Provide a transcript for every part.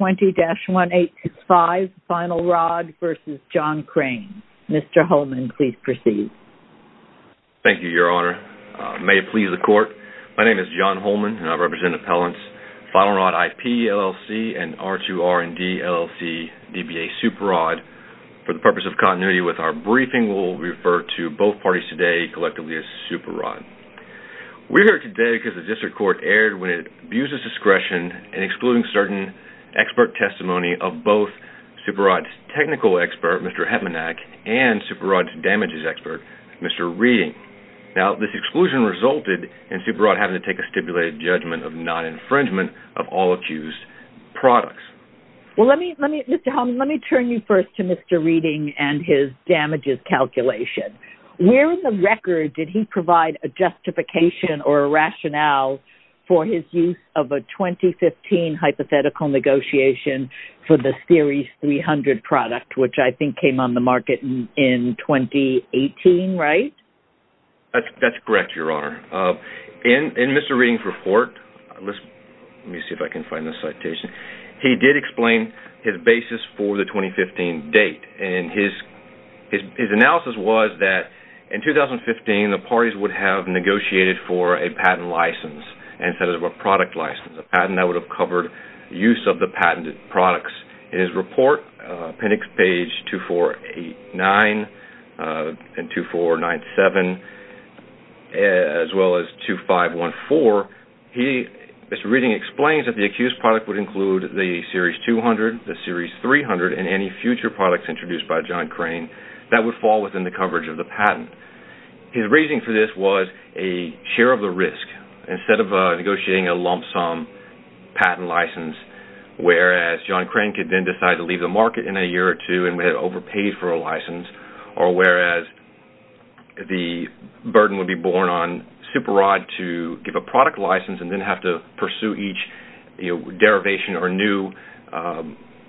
May it please the Court, my name is John Holman and I represent Appellants Finalrod IP, LLC and R2R&D, LLC, DBA Superrod. For the purpose of continuity with our briefing, we will refer to both parties today collectively as Superrod. We're here today because the District Court erred when it abuses discretion in excluding certain expert testimony of both Superrod's technical expert, Mr. Hepmanac, and Superrod's damages expert, Mr. Reading. Now, this exclusion resulted in Superrod having to take a stipulated judgment of non-infringement of all accused products. Well, Mr. Holman, let me turn you first to Mr. Reading and his damages calculation. Where in the record did he provide a justification or a rationale for his use of a 2015 hypothetical negotiation for the Series 300 product, which I think came on the market in 2018, right? That's correct, Your Honor. In Mr. Reading's report, he did explain his basis for the 2015 date. His analysis was that in 2015, the parties would have negotiated for a patent license instead of a product license, a patent that would have covered use of the patented products. In his report, appendix page 2489 and 2497, as well as 2514, Mr. Reading explains that the accused product would include the Series 200, the Series 300, and any future products introduced by John Crane that would fall within the coverage of the patent. His reasoning for this was a share of the risk instead of negotiating a lump sum patent license, whereas John Crane could then decide to leave the market in a year or two and would have overpaid for a license, or whereas the burden would be borne on Superodd to give a product license and then have to pursue each derivation or new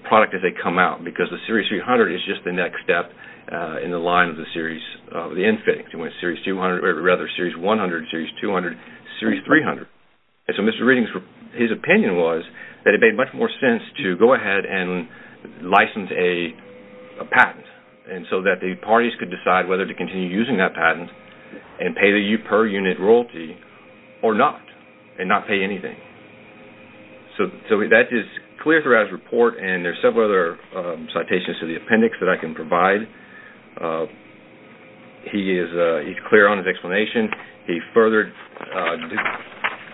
product as they come out, because the Series 300 is just the next step in the line of the Series, of the infix, Series 200, or rather Series 100, Series 200, Series 300. Mr. Reading's opinion was that it made much more sense to go ahead and license a patent so that the parties could decide whether to continue using that patent and pay the per-unit royalty or not and not pay anything. That is clear throughout his report, and there are several other citations to the appendix that I can provide. He's clear on his explanation. He furthered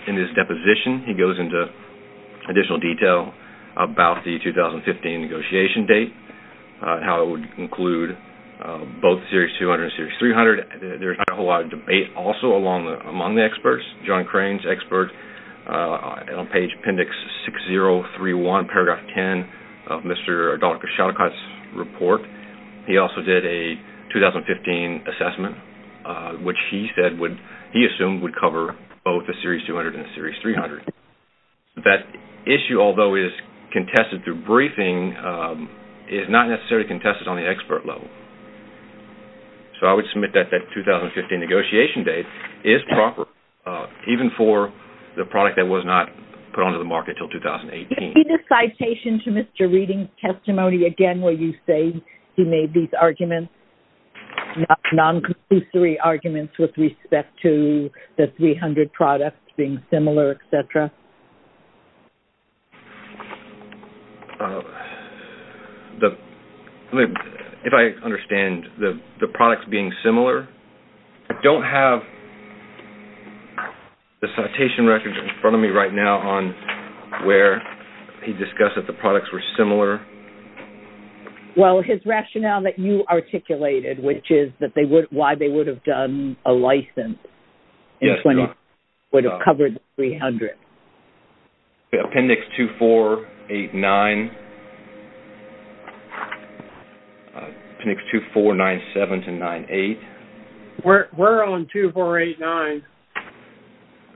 in his deposition, he goes into additional detail about the 2015 negotiation date and how it would include both Series 200 and Series 300. There's not a whole lot of debate also among the experts. John Crane's expert on page Appendix 6031, Paragraph 10 of Mr. Adolphe Cachalot's report, he also did a 2015 assessment, which he said would, he assumed, would cover both the Series 200 and Series 300. That issue, although it is contested through briefing, is not necessarily contested on the expert level. I would submit that that 2015 negotiation date is proper, even for the product that was not put onto the market until 2018. Did you see the citation to Mr. Reading's testimony again where you say he made these arguments, non-conclusory arguments with respect to the 300 products being similar, etc.? If I understand, the products being similar, I don't have the citation record in front of me right now on where he discussed that the products were similar. Well, his rationale that you articulated, which is why they would have done a license in 2015 would have covered the 300. Appendix 2489. Appendix 2497 to 98. We're on 2489.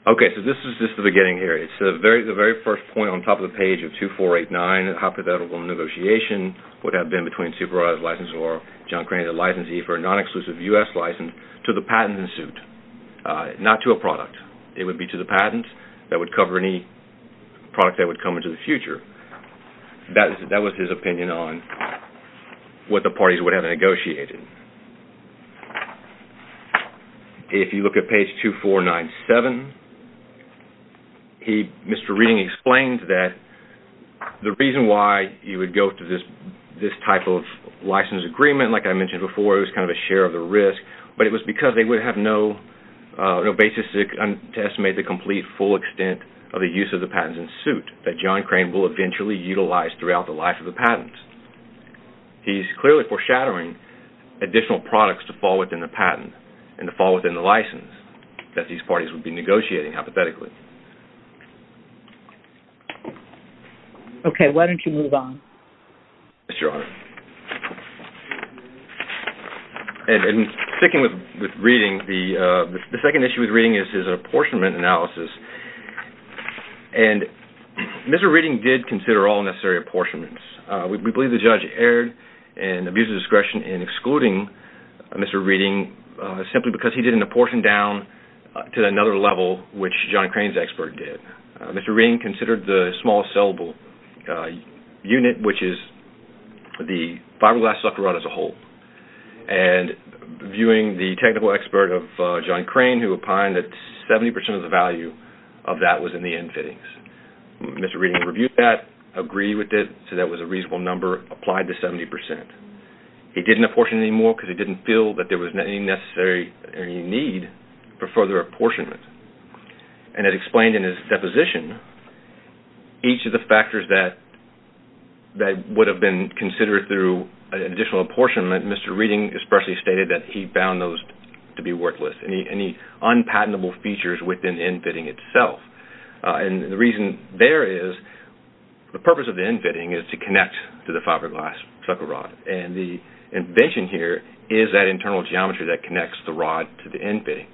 Okay, so this is just the beginning here. It's the very first point on top of the page of 2489. A hypothetical negotiation would have been between Supervised Licensing or John Craney, the licensee for a non-exclusive U.S. license, to the patent and suit, not to a product. It would be to the patent that would cover any product that would come into the future. That was his opinion on what the parties would have negotiated. If you look at page 2497, Mr. Reading explains that the reason why you would go to this type of license agreement, like I mentioned before, it was kind of a share of the risk, but it was because they would have no basis to estimate the complete, full extent of the use of the patents and suit that John Crane will eventually utilize throughout the life of the patents. He's clearly foreshadowing additional products to fall within the patent and to fall within the license that these parties would be negotiating, hypothetically. Okay, why don't you move on? Yes, Your Honor. In sticking with Reading, the second issue with Reading is his apportionment analysis. Mr. Reading did consider all necessary apportionments. We believe the judge erred and abused his discretion in excluding Mr. Reading simply because he didn't apportion down to another level, which John Crane's expert did. Mr. Reading considered the small sellable unit, which is the fiberglass sucker rod as a whole, and viewing the technical expert of John Crane, who opined that 70% of the value of that was in the end fittings. Mr. Reading reviewed that, agreed with it, said that was a reasonable number, applied the 70%. He didn't apportion any more because he didn't feel that there was any necessary need for further apportionment. And it explained in his deposition each of the factors that would have been considered through an additional apportionment. Mr. Reading especially stated that he found those to be worthless, any unpatentable features within the end fitting itself. And the reason there is, the purpose of the end fitting is to connect to the fiberglass sucker rod. And the invention here is that internal geometry that connects the rod to the end fitting.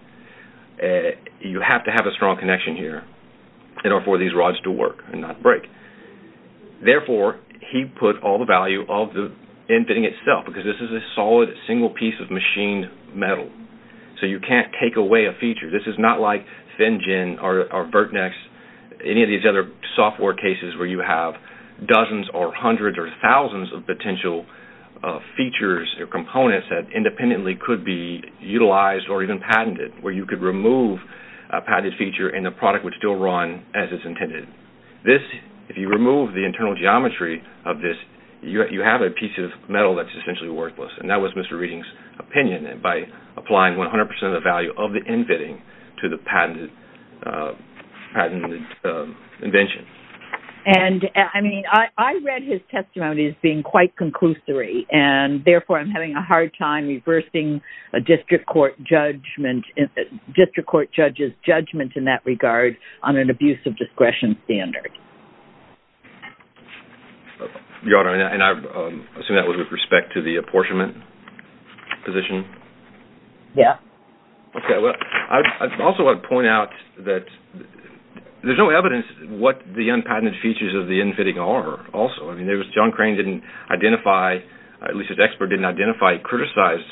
You have to have a strong connection here in order for these rods to work and not break. Therefore, he put all the value of the end fitting itself, because this is a solid, single piece of machined metal. So you can't take away a feature. This is not like FinGen or Vertnex, any of these other software cases where you have dozens or hundreds or thousands of potential features or components that independently could be utilized or even patented, where you could remove a patented feature and the product would still run as it's intended. If you remove the internal geometry of this, you have a piece of metal that's essentially worthless. And that was Mr. Reading's opinion by applying 100% of the value of the end fitting to the patented invention. I read his testimony as being quite conclusory. And therefore, I'm having a hard time reversing a district court judge's judgment in that regard on an abuse of discretion standard. Your Honor, and I assume that was with respect to the apportionment position? Yeah. Okay, well, I also want to point out that there's no evidence what the unpatented features of the end fitting are also. I mean, John Crane didn't identify, at least his expert didn't identify, he criticized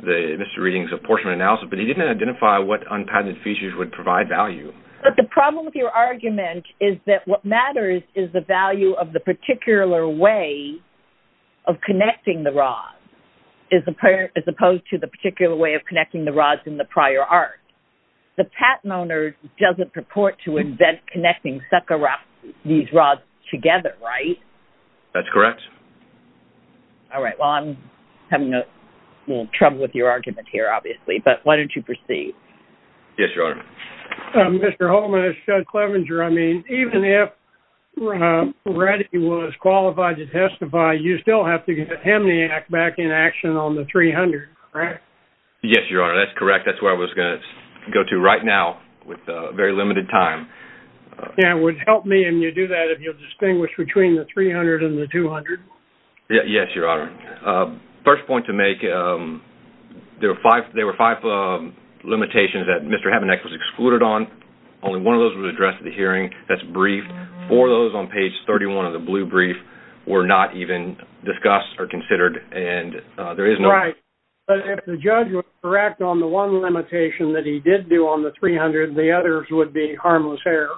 Mr. Reading's apportionment analysis, but he didn't identify what unpatented features would provide value. But the problem with your argument is that what matters is the value of the particular way of connecting the rods, as opposed to the particular way of connecting the rods in the prior art. The patent owner doesn't purport to invent connecting these rods together, right? That's correct. All right, well, I'm having a little trouble with your argument here, obviously, but why don't you proceed? Yes, Your Honor. Mr. Holman, it's Judge Clevenger. I mean, even if Redding was qualified to testify, you still have to get Hemniac back in action on the 300, correct? Yes, Your Honor, that's correct. That's where I was going to go to right now with very limited time. Yeah, it would help me if you do that, if you'll distinguish between the 300 and the 200. Yes, Your Honor. First point to make, there were five limitations that Mr. Hemniac was excluded on. Only one of those was addressed at the hearing. That's briefed. Four of those on page 31 of the blue brief were not even discussed or considered. Right, but if the judge was correct on the one limitation that he did do on the 300, the others would be harmless error.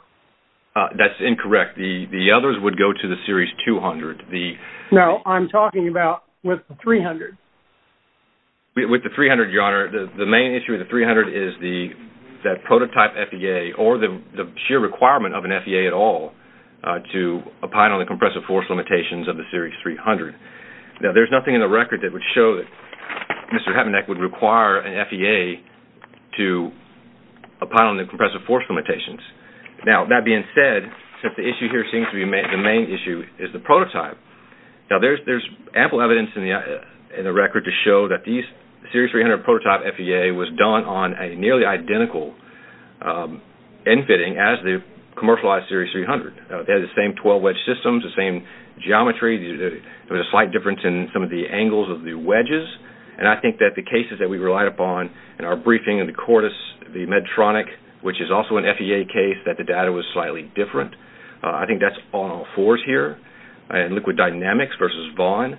That's incorrect. The others would go to the series 200. No, I'm talking about with the 300. With the 300, Your Honor, the main issue with the 300 is that prototype FEA or the sheer requirement of an FEA at all to opine on the compressive force limitations of the series 300. Now, there's nothing in the record that would show that Mr. Hemniac would require an FEA to opine on the compressive force limitations. Now, that being said, since the issue here seems to be the main issue is the prototype. Now, there's ample evidence in the record to show that the series 300 prototype FEA was done on a nearly identical end fitting as the commercialized series 300. They had the same 12-wedge systems, the same geometry. There was a slight difference in some of the angles of the wedges. And I think that the cases that we relied upon in our briefing in the Cortis, the Medtronic, which is also an FEA case, that the data was slightly different. I think that's on all fours here. And liquid dynamics versus Vaughan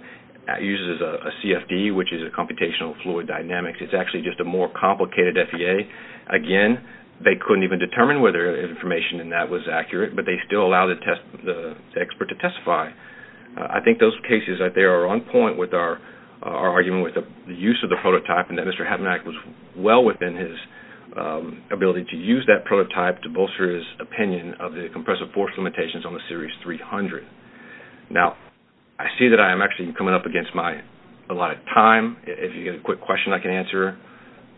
uses a CFD, which is a computational fluid dynamics. It's actually just a more complicated FEA. Again, they couldn't even determine whether the information in that was accurate, but they still allowed the expert to testify. I think those cases out there are on point with our argument with the use of the prototype and that Mr. Habenack was well within his ability to use that prototype to bolster his opinion of the compressive force limitations on the series 300. Now, I see that I am actually coming up against my allotted time. If you have a quick question I can answer,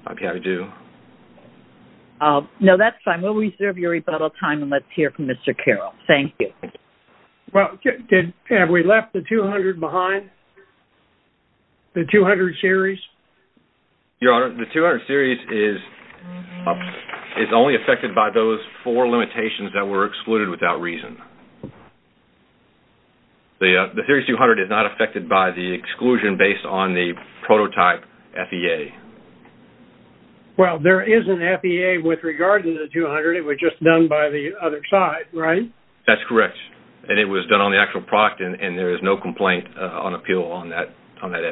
I'd be happy to do. No, that's fine. We'll reserve your rebuttal time and let's hear from Mr. Carroll. Thank you. Well, have we left the 200 behind, the 200 series? Your Honor, the 200 series is only affected by those four limitations that were excluded without reason. The Series 200 is not affected by the exclusion based on the prototype FEA. Well, there is an FEA with regard to the 200. It was just done by the other side, right? That's correct, and it was done on the actual product, and there is no complaint on appeal on that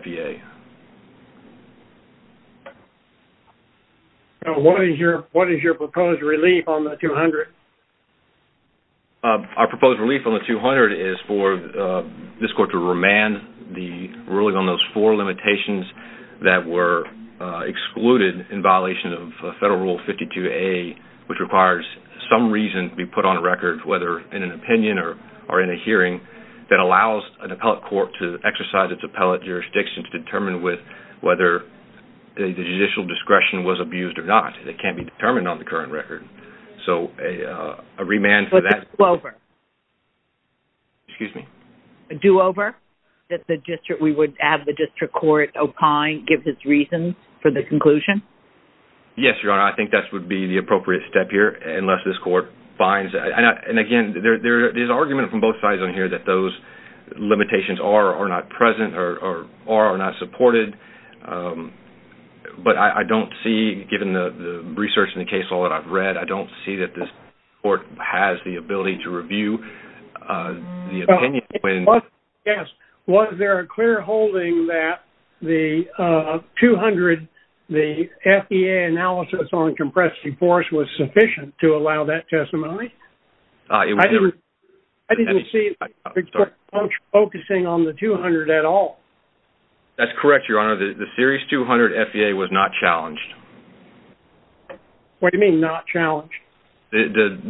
FEA. What is your proposed relief on the 200? Our proposed relief on the 200 is for this court to remand the ruling on those four limitations that were excluded in violation of Federal Rule 52A, which requires some reason to be put on a record, whether in an opinion or in a hearing, that allows an appellate court to exercise its appellate jurisdiction to determine whether the judicial discretion was abused or not. It can't be determined on the current record. So a remand for that. A do-over? Excuse me? A do-over? That we would have the district court opine, give its reasons for the conclusion? Yes, Your Honor, I think that would be the appropriate step here, unless this court finds that. And, again, there is argument from both sides on here that those limitations are or are not present or are or are not supported. But I don't see, given the research in the case law that I've read, I don't see that this court has the ability to review the opinion. Yes, was there a clear holding that the 200, the FEA analysis on compressive force was sufficient to allow that testimony? I didn't see the district court focusing on the 200 at all. That's correct, Your Honor. The Series 200 FEA was not challenged. What do you mean not challenged?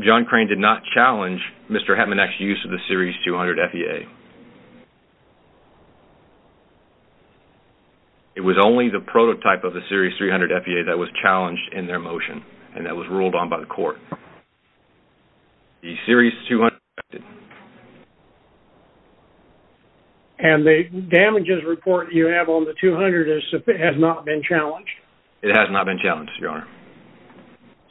John Crane did not challenge Mr. Hetmanek's use of the Series 200 FEA. It was only the prototype of the Series 300 FEA that was challenged in their motion and that was ruled on by the court. The Series 200 was not tested. And the damages report you have on the 200 has not been challenged? It has not been challenged, Your Honor.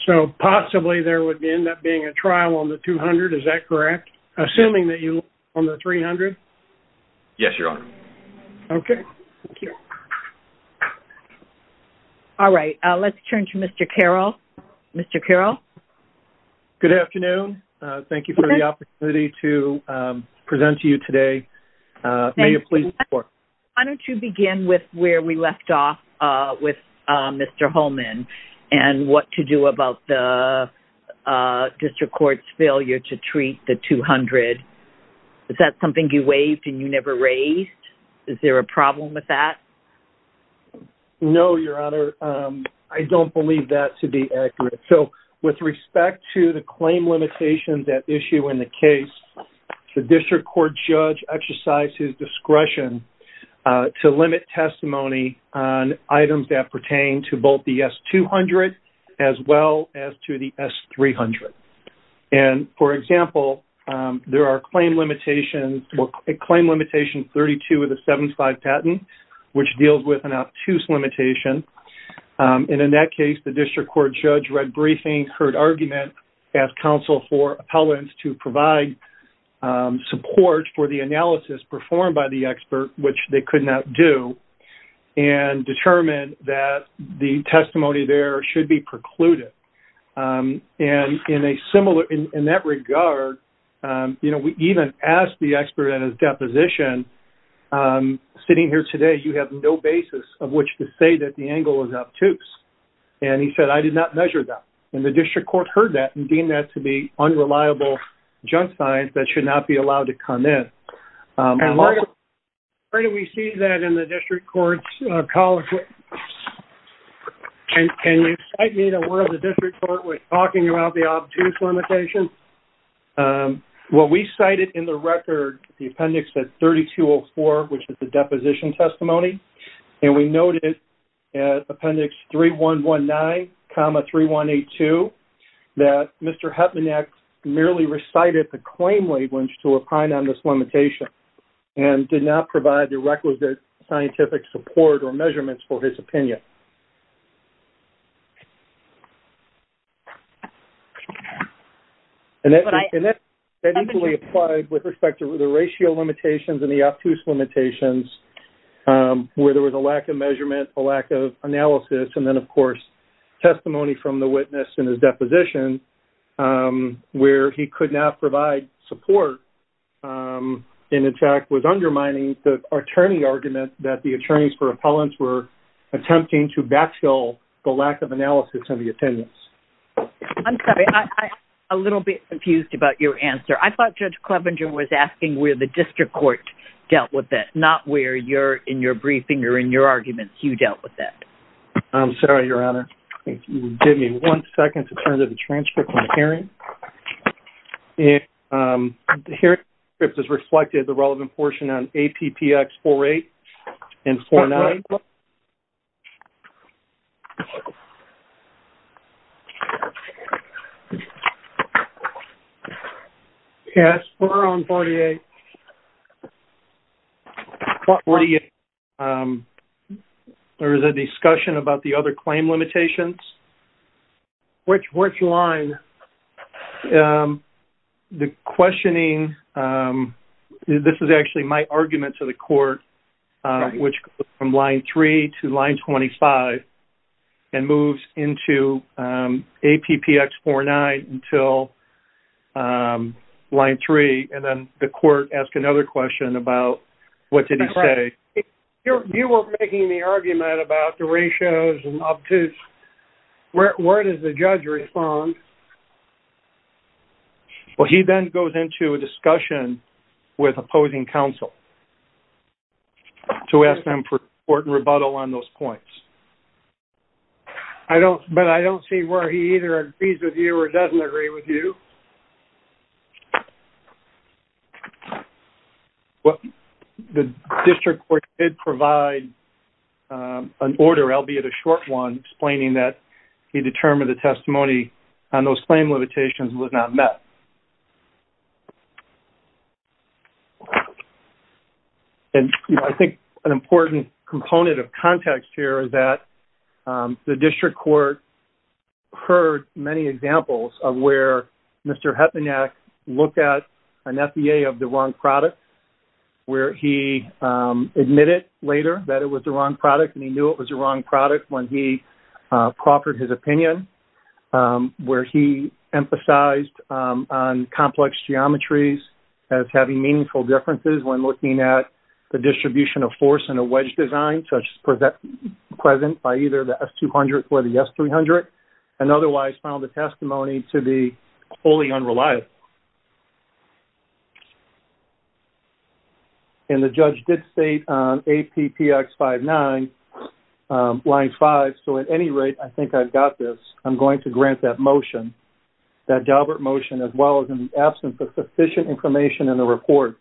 So possibly there would end up being a trial on the 200, is that correct? Assuming that you are on the 300? Yes, Your Honor. Okay. Thank you. All right, let's turn to Mr. Carroll. Mr. Carroll? Good afternoon. Thank you for the opportunity to present to you today. May you please report? Why don't you begin with where we left off with Mr. Holman and what to do about the district court's failure to treat the 200? Is that something you waived and you never raised? Is there a problem with that? No, Your Honor. I don't believe that to be accurate. So with respect to the claim limitations at issue in the case, the district court judge exercised his discretion to limit testimony on items that pertain to both the S-200 as well as to the S-300. And, for example, there are claim limitations, claim limitation 32 of the 7-5 patent, which deals with an obtuse limitation. And in that case, the district court judge read briefing, heard argument, asked counsel for appellants to provide support for the analysis performed by the expert, which they could not do, and determined that the testimony there should be precluded. And in a similar – in that regard, you know, we even asked the expert at his deposition, sitting here today, you have no basis of which to say that the angle is obtuse. And he said, I did not measure that. And the district court heard that and deemed that to be unreliable junk signs that should not be allowed to come in. And where do we see that in the district court's college? Can you cite me to where the district court was talking about the obtuse limitation? Well, we cited in the record the appendix at 3204, which is the deposition testimony. And we noted at appendix 3119,3182, that Mr. Hetmanek merely recited the claim language to opine on this limitation and did not provide the requisite scientific support or measurements for his opinion. And that easily applied with respect to the ratio limitations and the obtuse limitations, where there was a lack of measurement, a lack of analysis, and then, of course, testimony from the witness in his deposition, where he could not provide support and, in fact, was undermining the attorney argument that the attorneys for appellants were attempting to backfill the lack of analysis of the opinions. I'm sorry, I'm a little bit confused about your answer. I thought Judge Clevenger was asking where the district court dealt with that, not where in your briefing or in your arguments you dealt with that. I'm sorry, Your Honor. If you would give me one second to turn to the transcript of my hearing. The hearing transcript is reflected in the relevant portion on APPX 48 and 49. Yes, we're on 48. On 48, there is a discussion about the other claim limitations. Which line? The questioning, this is actually my argument to the court, which goes from line 3 to line 25 and moves into APPX 49 until line 3. And then the court asked another question about what did he say. You were making the argument about the ratios and obtuse. Where does the judge respond? Well, he then goes into a discussion with opposing counsel to ask them for support and rebuttal on those points. But I don't see where he either agrees with you or doesn't agree with you. Well, the district court did provide an order, albeit a short one, explaining that he determined the testimony on those claim limitations was not met. And I think an important component of context here is that the district court heard many examples of where Mr. Hetmanek looked at an FBA of the wrong product, where he admitted later that it was the wrong product and he knew it was the wrong product when he proffered his opinion, where he emphasized on complex geometries as having meaningful differences when looking at the distribution of force in a wedge design, such as present by either the S-200 or the S-300, the district court and otherwise found the testimony to be wholly unreliable. And the judge did state on APPX-59, line 5, so at any rate, I think I've got this. I'm going to grant that motion, that Daubert motion, as well as in the absence of sufficient information in the report,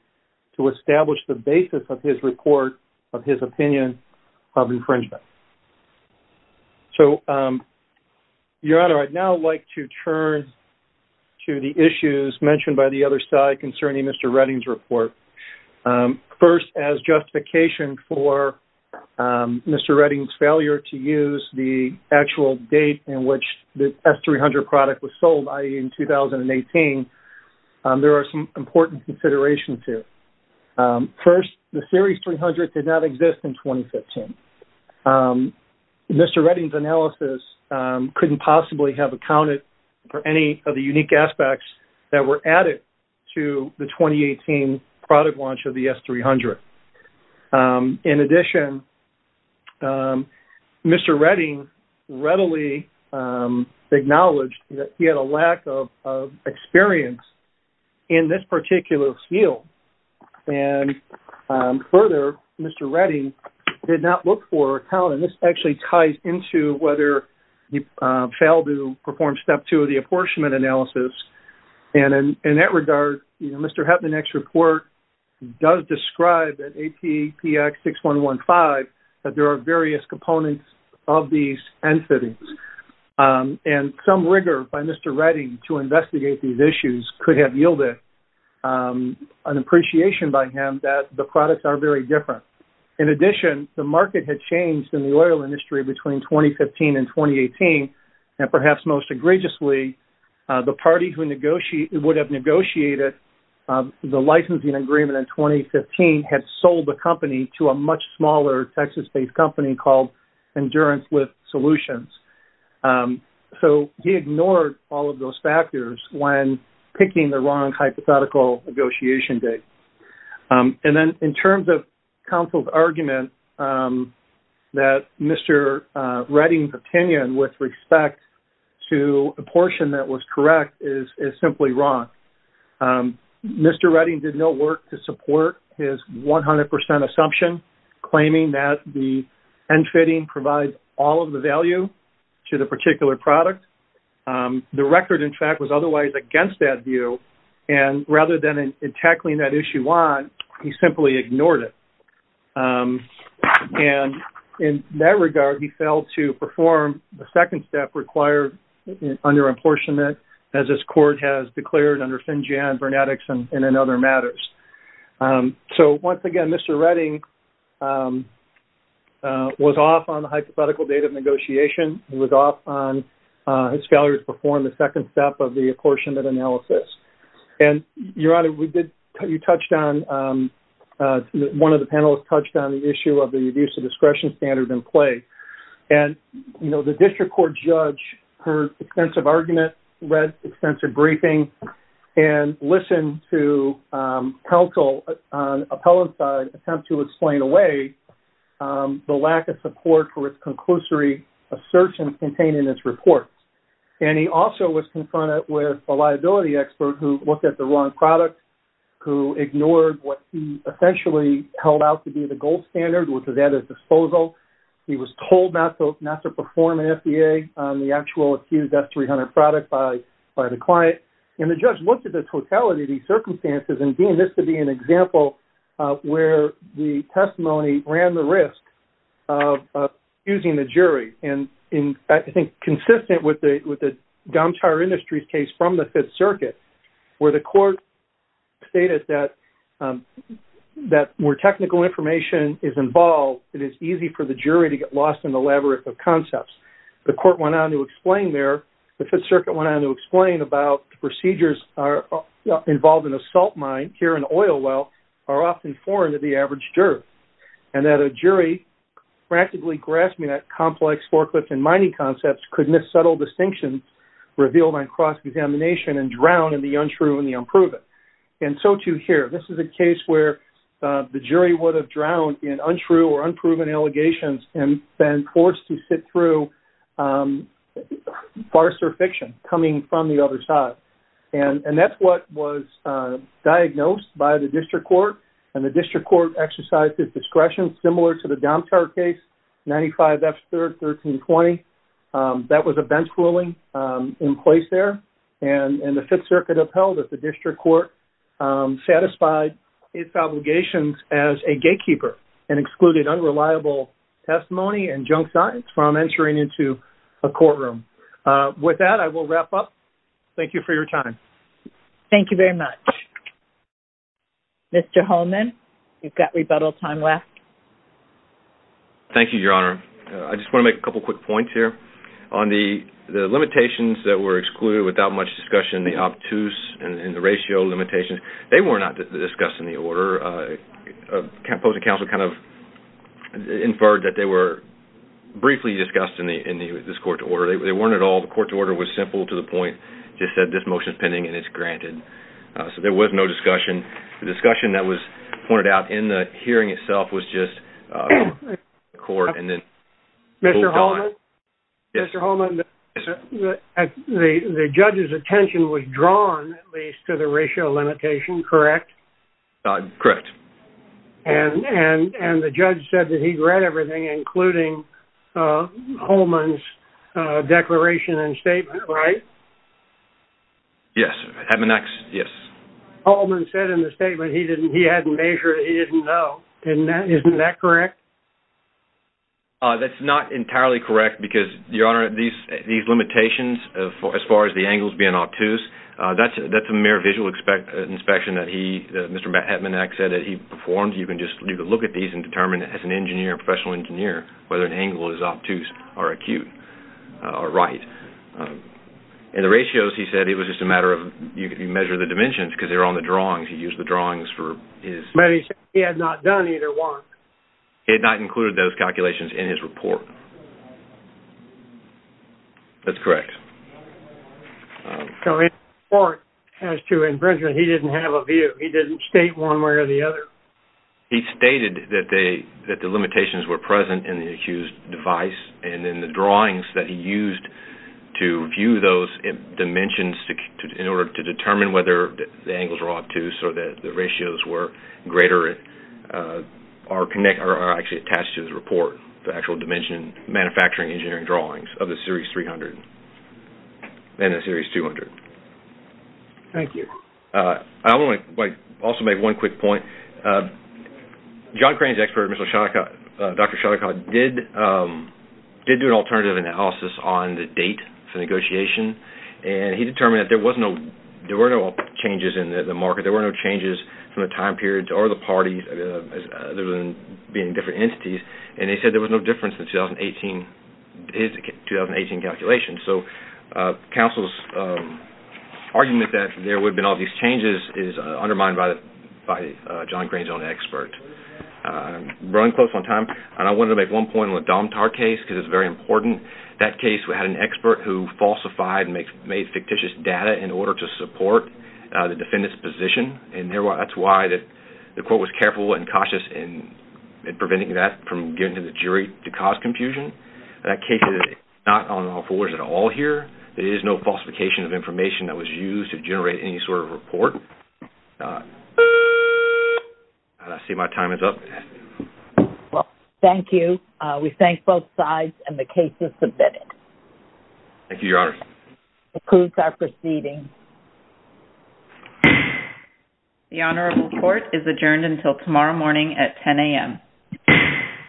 to establish the basis of his report of his opinion of infringement. So, Your Honor, I'd now like to turn to the issues mentioned by the other side concerning Mr. Redding's report. First, as justification for Mr. Redding's failure to use the actual date in which the S-300 product was sold, i.e., in 2018, there are some important considerations here. First, the Series 300 did not exist in 2015. Mr. Redding's analysis couldn't possibly have accounted for any of the unique aspects that were added to the 2018 product launch of the S-300. In addition, Mr. Redding readily acknowledged that he had a lack of experience in this particular field. And further, Mr. Redding did not look for, and this actually ties into whether he failed to perform Step 2 of the apportionment analysis, and in that regard, Mr. Hetmanek's report does describe that APPX-6115, that there are various components of these entities, and some rigor by Mr. Redding to investigate these issues could have yielded an appreciation by him that the products are very different. In addition, the market had changed in the oil industry between 2015 and 2018, and perhaps most egregiously, the party who would have negotiated the licensing agreement in 2015 had sold the company to a much smaller Texas-based company called Endurance with Solutions. So he ignored all of those factors when picking the wrong hypothetical negotiation date. And then in terms of counsel's argument that Mr. Redding's opinion with respect to a portion that was correct is simply wrong. Mr. Redding did no work to support his 100% assumption, claiming that the end fitting provides all of the value to the particular product. The record, in fact, was otherwise against that view, and rather than tackling that issue on, he simply ignored it. And in that regard, he failed to perform the second step required under apportionment, as this court has declared under Finjan, Vernadix, and in other matters. So once again, Mr. Redding was off on the hypothetical date of negotiation. He was off on his failure to perform the second step of the apportionment analysis. And, Your Honor, we did, you touched on, one of the panelists touched on the issue of the abuse of discretion standard in play. And, you know, the district court judge, her extensive argument, read extensive briefing, and listened to counsel on appellant's side attempt to explain away the lack of support for its conclusory assertion contained in its report. And he also was confronted with a liability expert who looked at the wrong product, who ignored what he essentially held out to be the gold standard, which is at his disposal. He was told not to perform an FBA on the actual accused S-300 product by the client. And the judge looked at the totality of these circumstances and deemed this to be an example where the testimony ran the risk of using the jury. And I think consistent with the Dom Tower Industries case from the Fifth Circuit, where the court stated that where technical information is involved, it is easy for the jury to get lost in the labyrinth of concepts. The court went on to explain there, the Fifth Circuit went on to explain about the procedures involved in a salt mine, here an oil well, are often foreign to the average juror. And that a jury practically grasping that complex forklift and mining concepts could miss subtle distinctions revealed on cross-examination and drown in the untrue and the unproven. And so too here. This is a case where the jury would have drowned in untrue or unproven allegations and been forced to sit through farce or fiction coming from the other side. And that's what was diagnosed by the District Court. And the District Court exercised its discretion similar to the Dom Tower case, 95 F-3rd, 1320. That was a bench ruling in place there. And the Fifth Circuit upheld that the District Court satisfied its obligations as a gatekeeper and excluded unreliable testimony and junk science from entering into a courtroom. With that, I will wrap up. Thank you for your time. Thank you very much. Mr. Holman, you've got rebuttal time left. Thank you, Your Honor. I just want to make a couple quick points here. On the limitations that were excluded without much discussion, the obtuse and the ratio limitations, they were not discussed in the order. The opposing counsel kind of inferred that they were briefly discussed in this court order. They weren't at all. The court order was simple to the point, just said this motion is pending and it's granted. So there was no discussion. The discussion that was pointed out in the hearing itself was just court and then moved on. Mr. Holman, the judge's attention was drawn, at least, to the ratio limitation, correct? Correct. And the judge said that he'd read everything, including Holman's declaration and statement, right? Yes. Holman said in the statement he hadn't measured, he didn't know. Isn't that correct? That's not entirely correct because, Your Honor, these limitations as far as the angles being obtuse, that's a mere visual inspection that he, Mr. Hetmanak, said that he performed. You can look at these and determine as an engineer, a professional engineer, whether an angle is obtuse or acute or right. In the ratios, he said it was just a matter of, you measure the dimensions because they were on the drawings. He used the drawings for his... But he had not done either one. He had not included those calculations in his report. That's correct. So his report has to... And, Brendan, he didn't have a view. He didn't state one way or the other. He stated that the limitations were present in the accused device and in the drawings that he used to view those dimensions in order to determine whether the angles were obtuse or that the ratios were greater are actually attached to his report, the actual dimension manufacturing engineering drawings of the Series 300 and the Series 200. Thank you. I also want to make one quick point. John Crane's expert, Dr. Shattucot, did do an alternative analysis on the date for negotiation, and he determined that there were no changes in the market. There were no changes from the time period or the parties, other than being different entities, and they said there was no difference in his 2018 calculations. So counsel's argument that there would have been all these changes is undermined by John Crane's own expert. Running close on time, I wanted to make one point on the Domtar case because it's very important. That case had an expert who falsified and made fictitious data in order to support the defendant's position, and that's why the court was careful and cautious in preventing that from getting to the jury to cause confusion. That case is not on all fours at all here. There is no falsification of information that was used to generate any sort of report. I see my time is up. Well, thank you. We thank both sides, and the case is submitted. Thank you, Your Honor. This concludes our proceedings. The honorable court is adjourned until tomorrow morning at 10 a.m.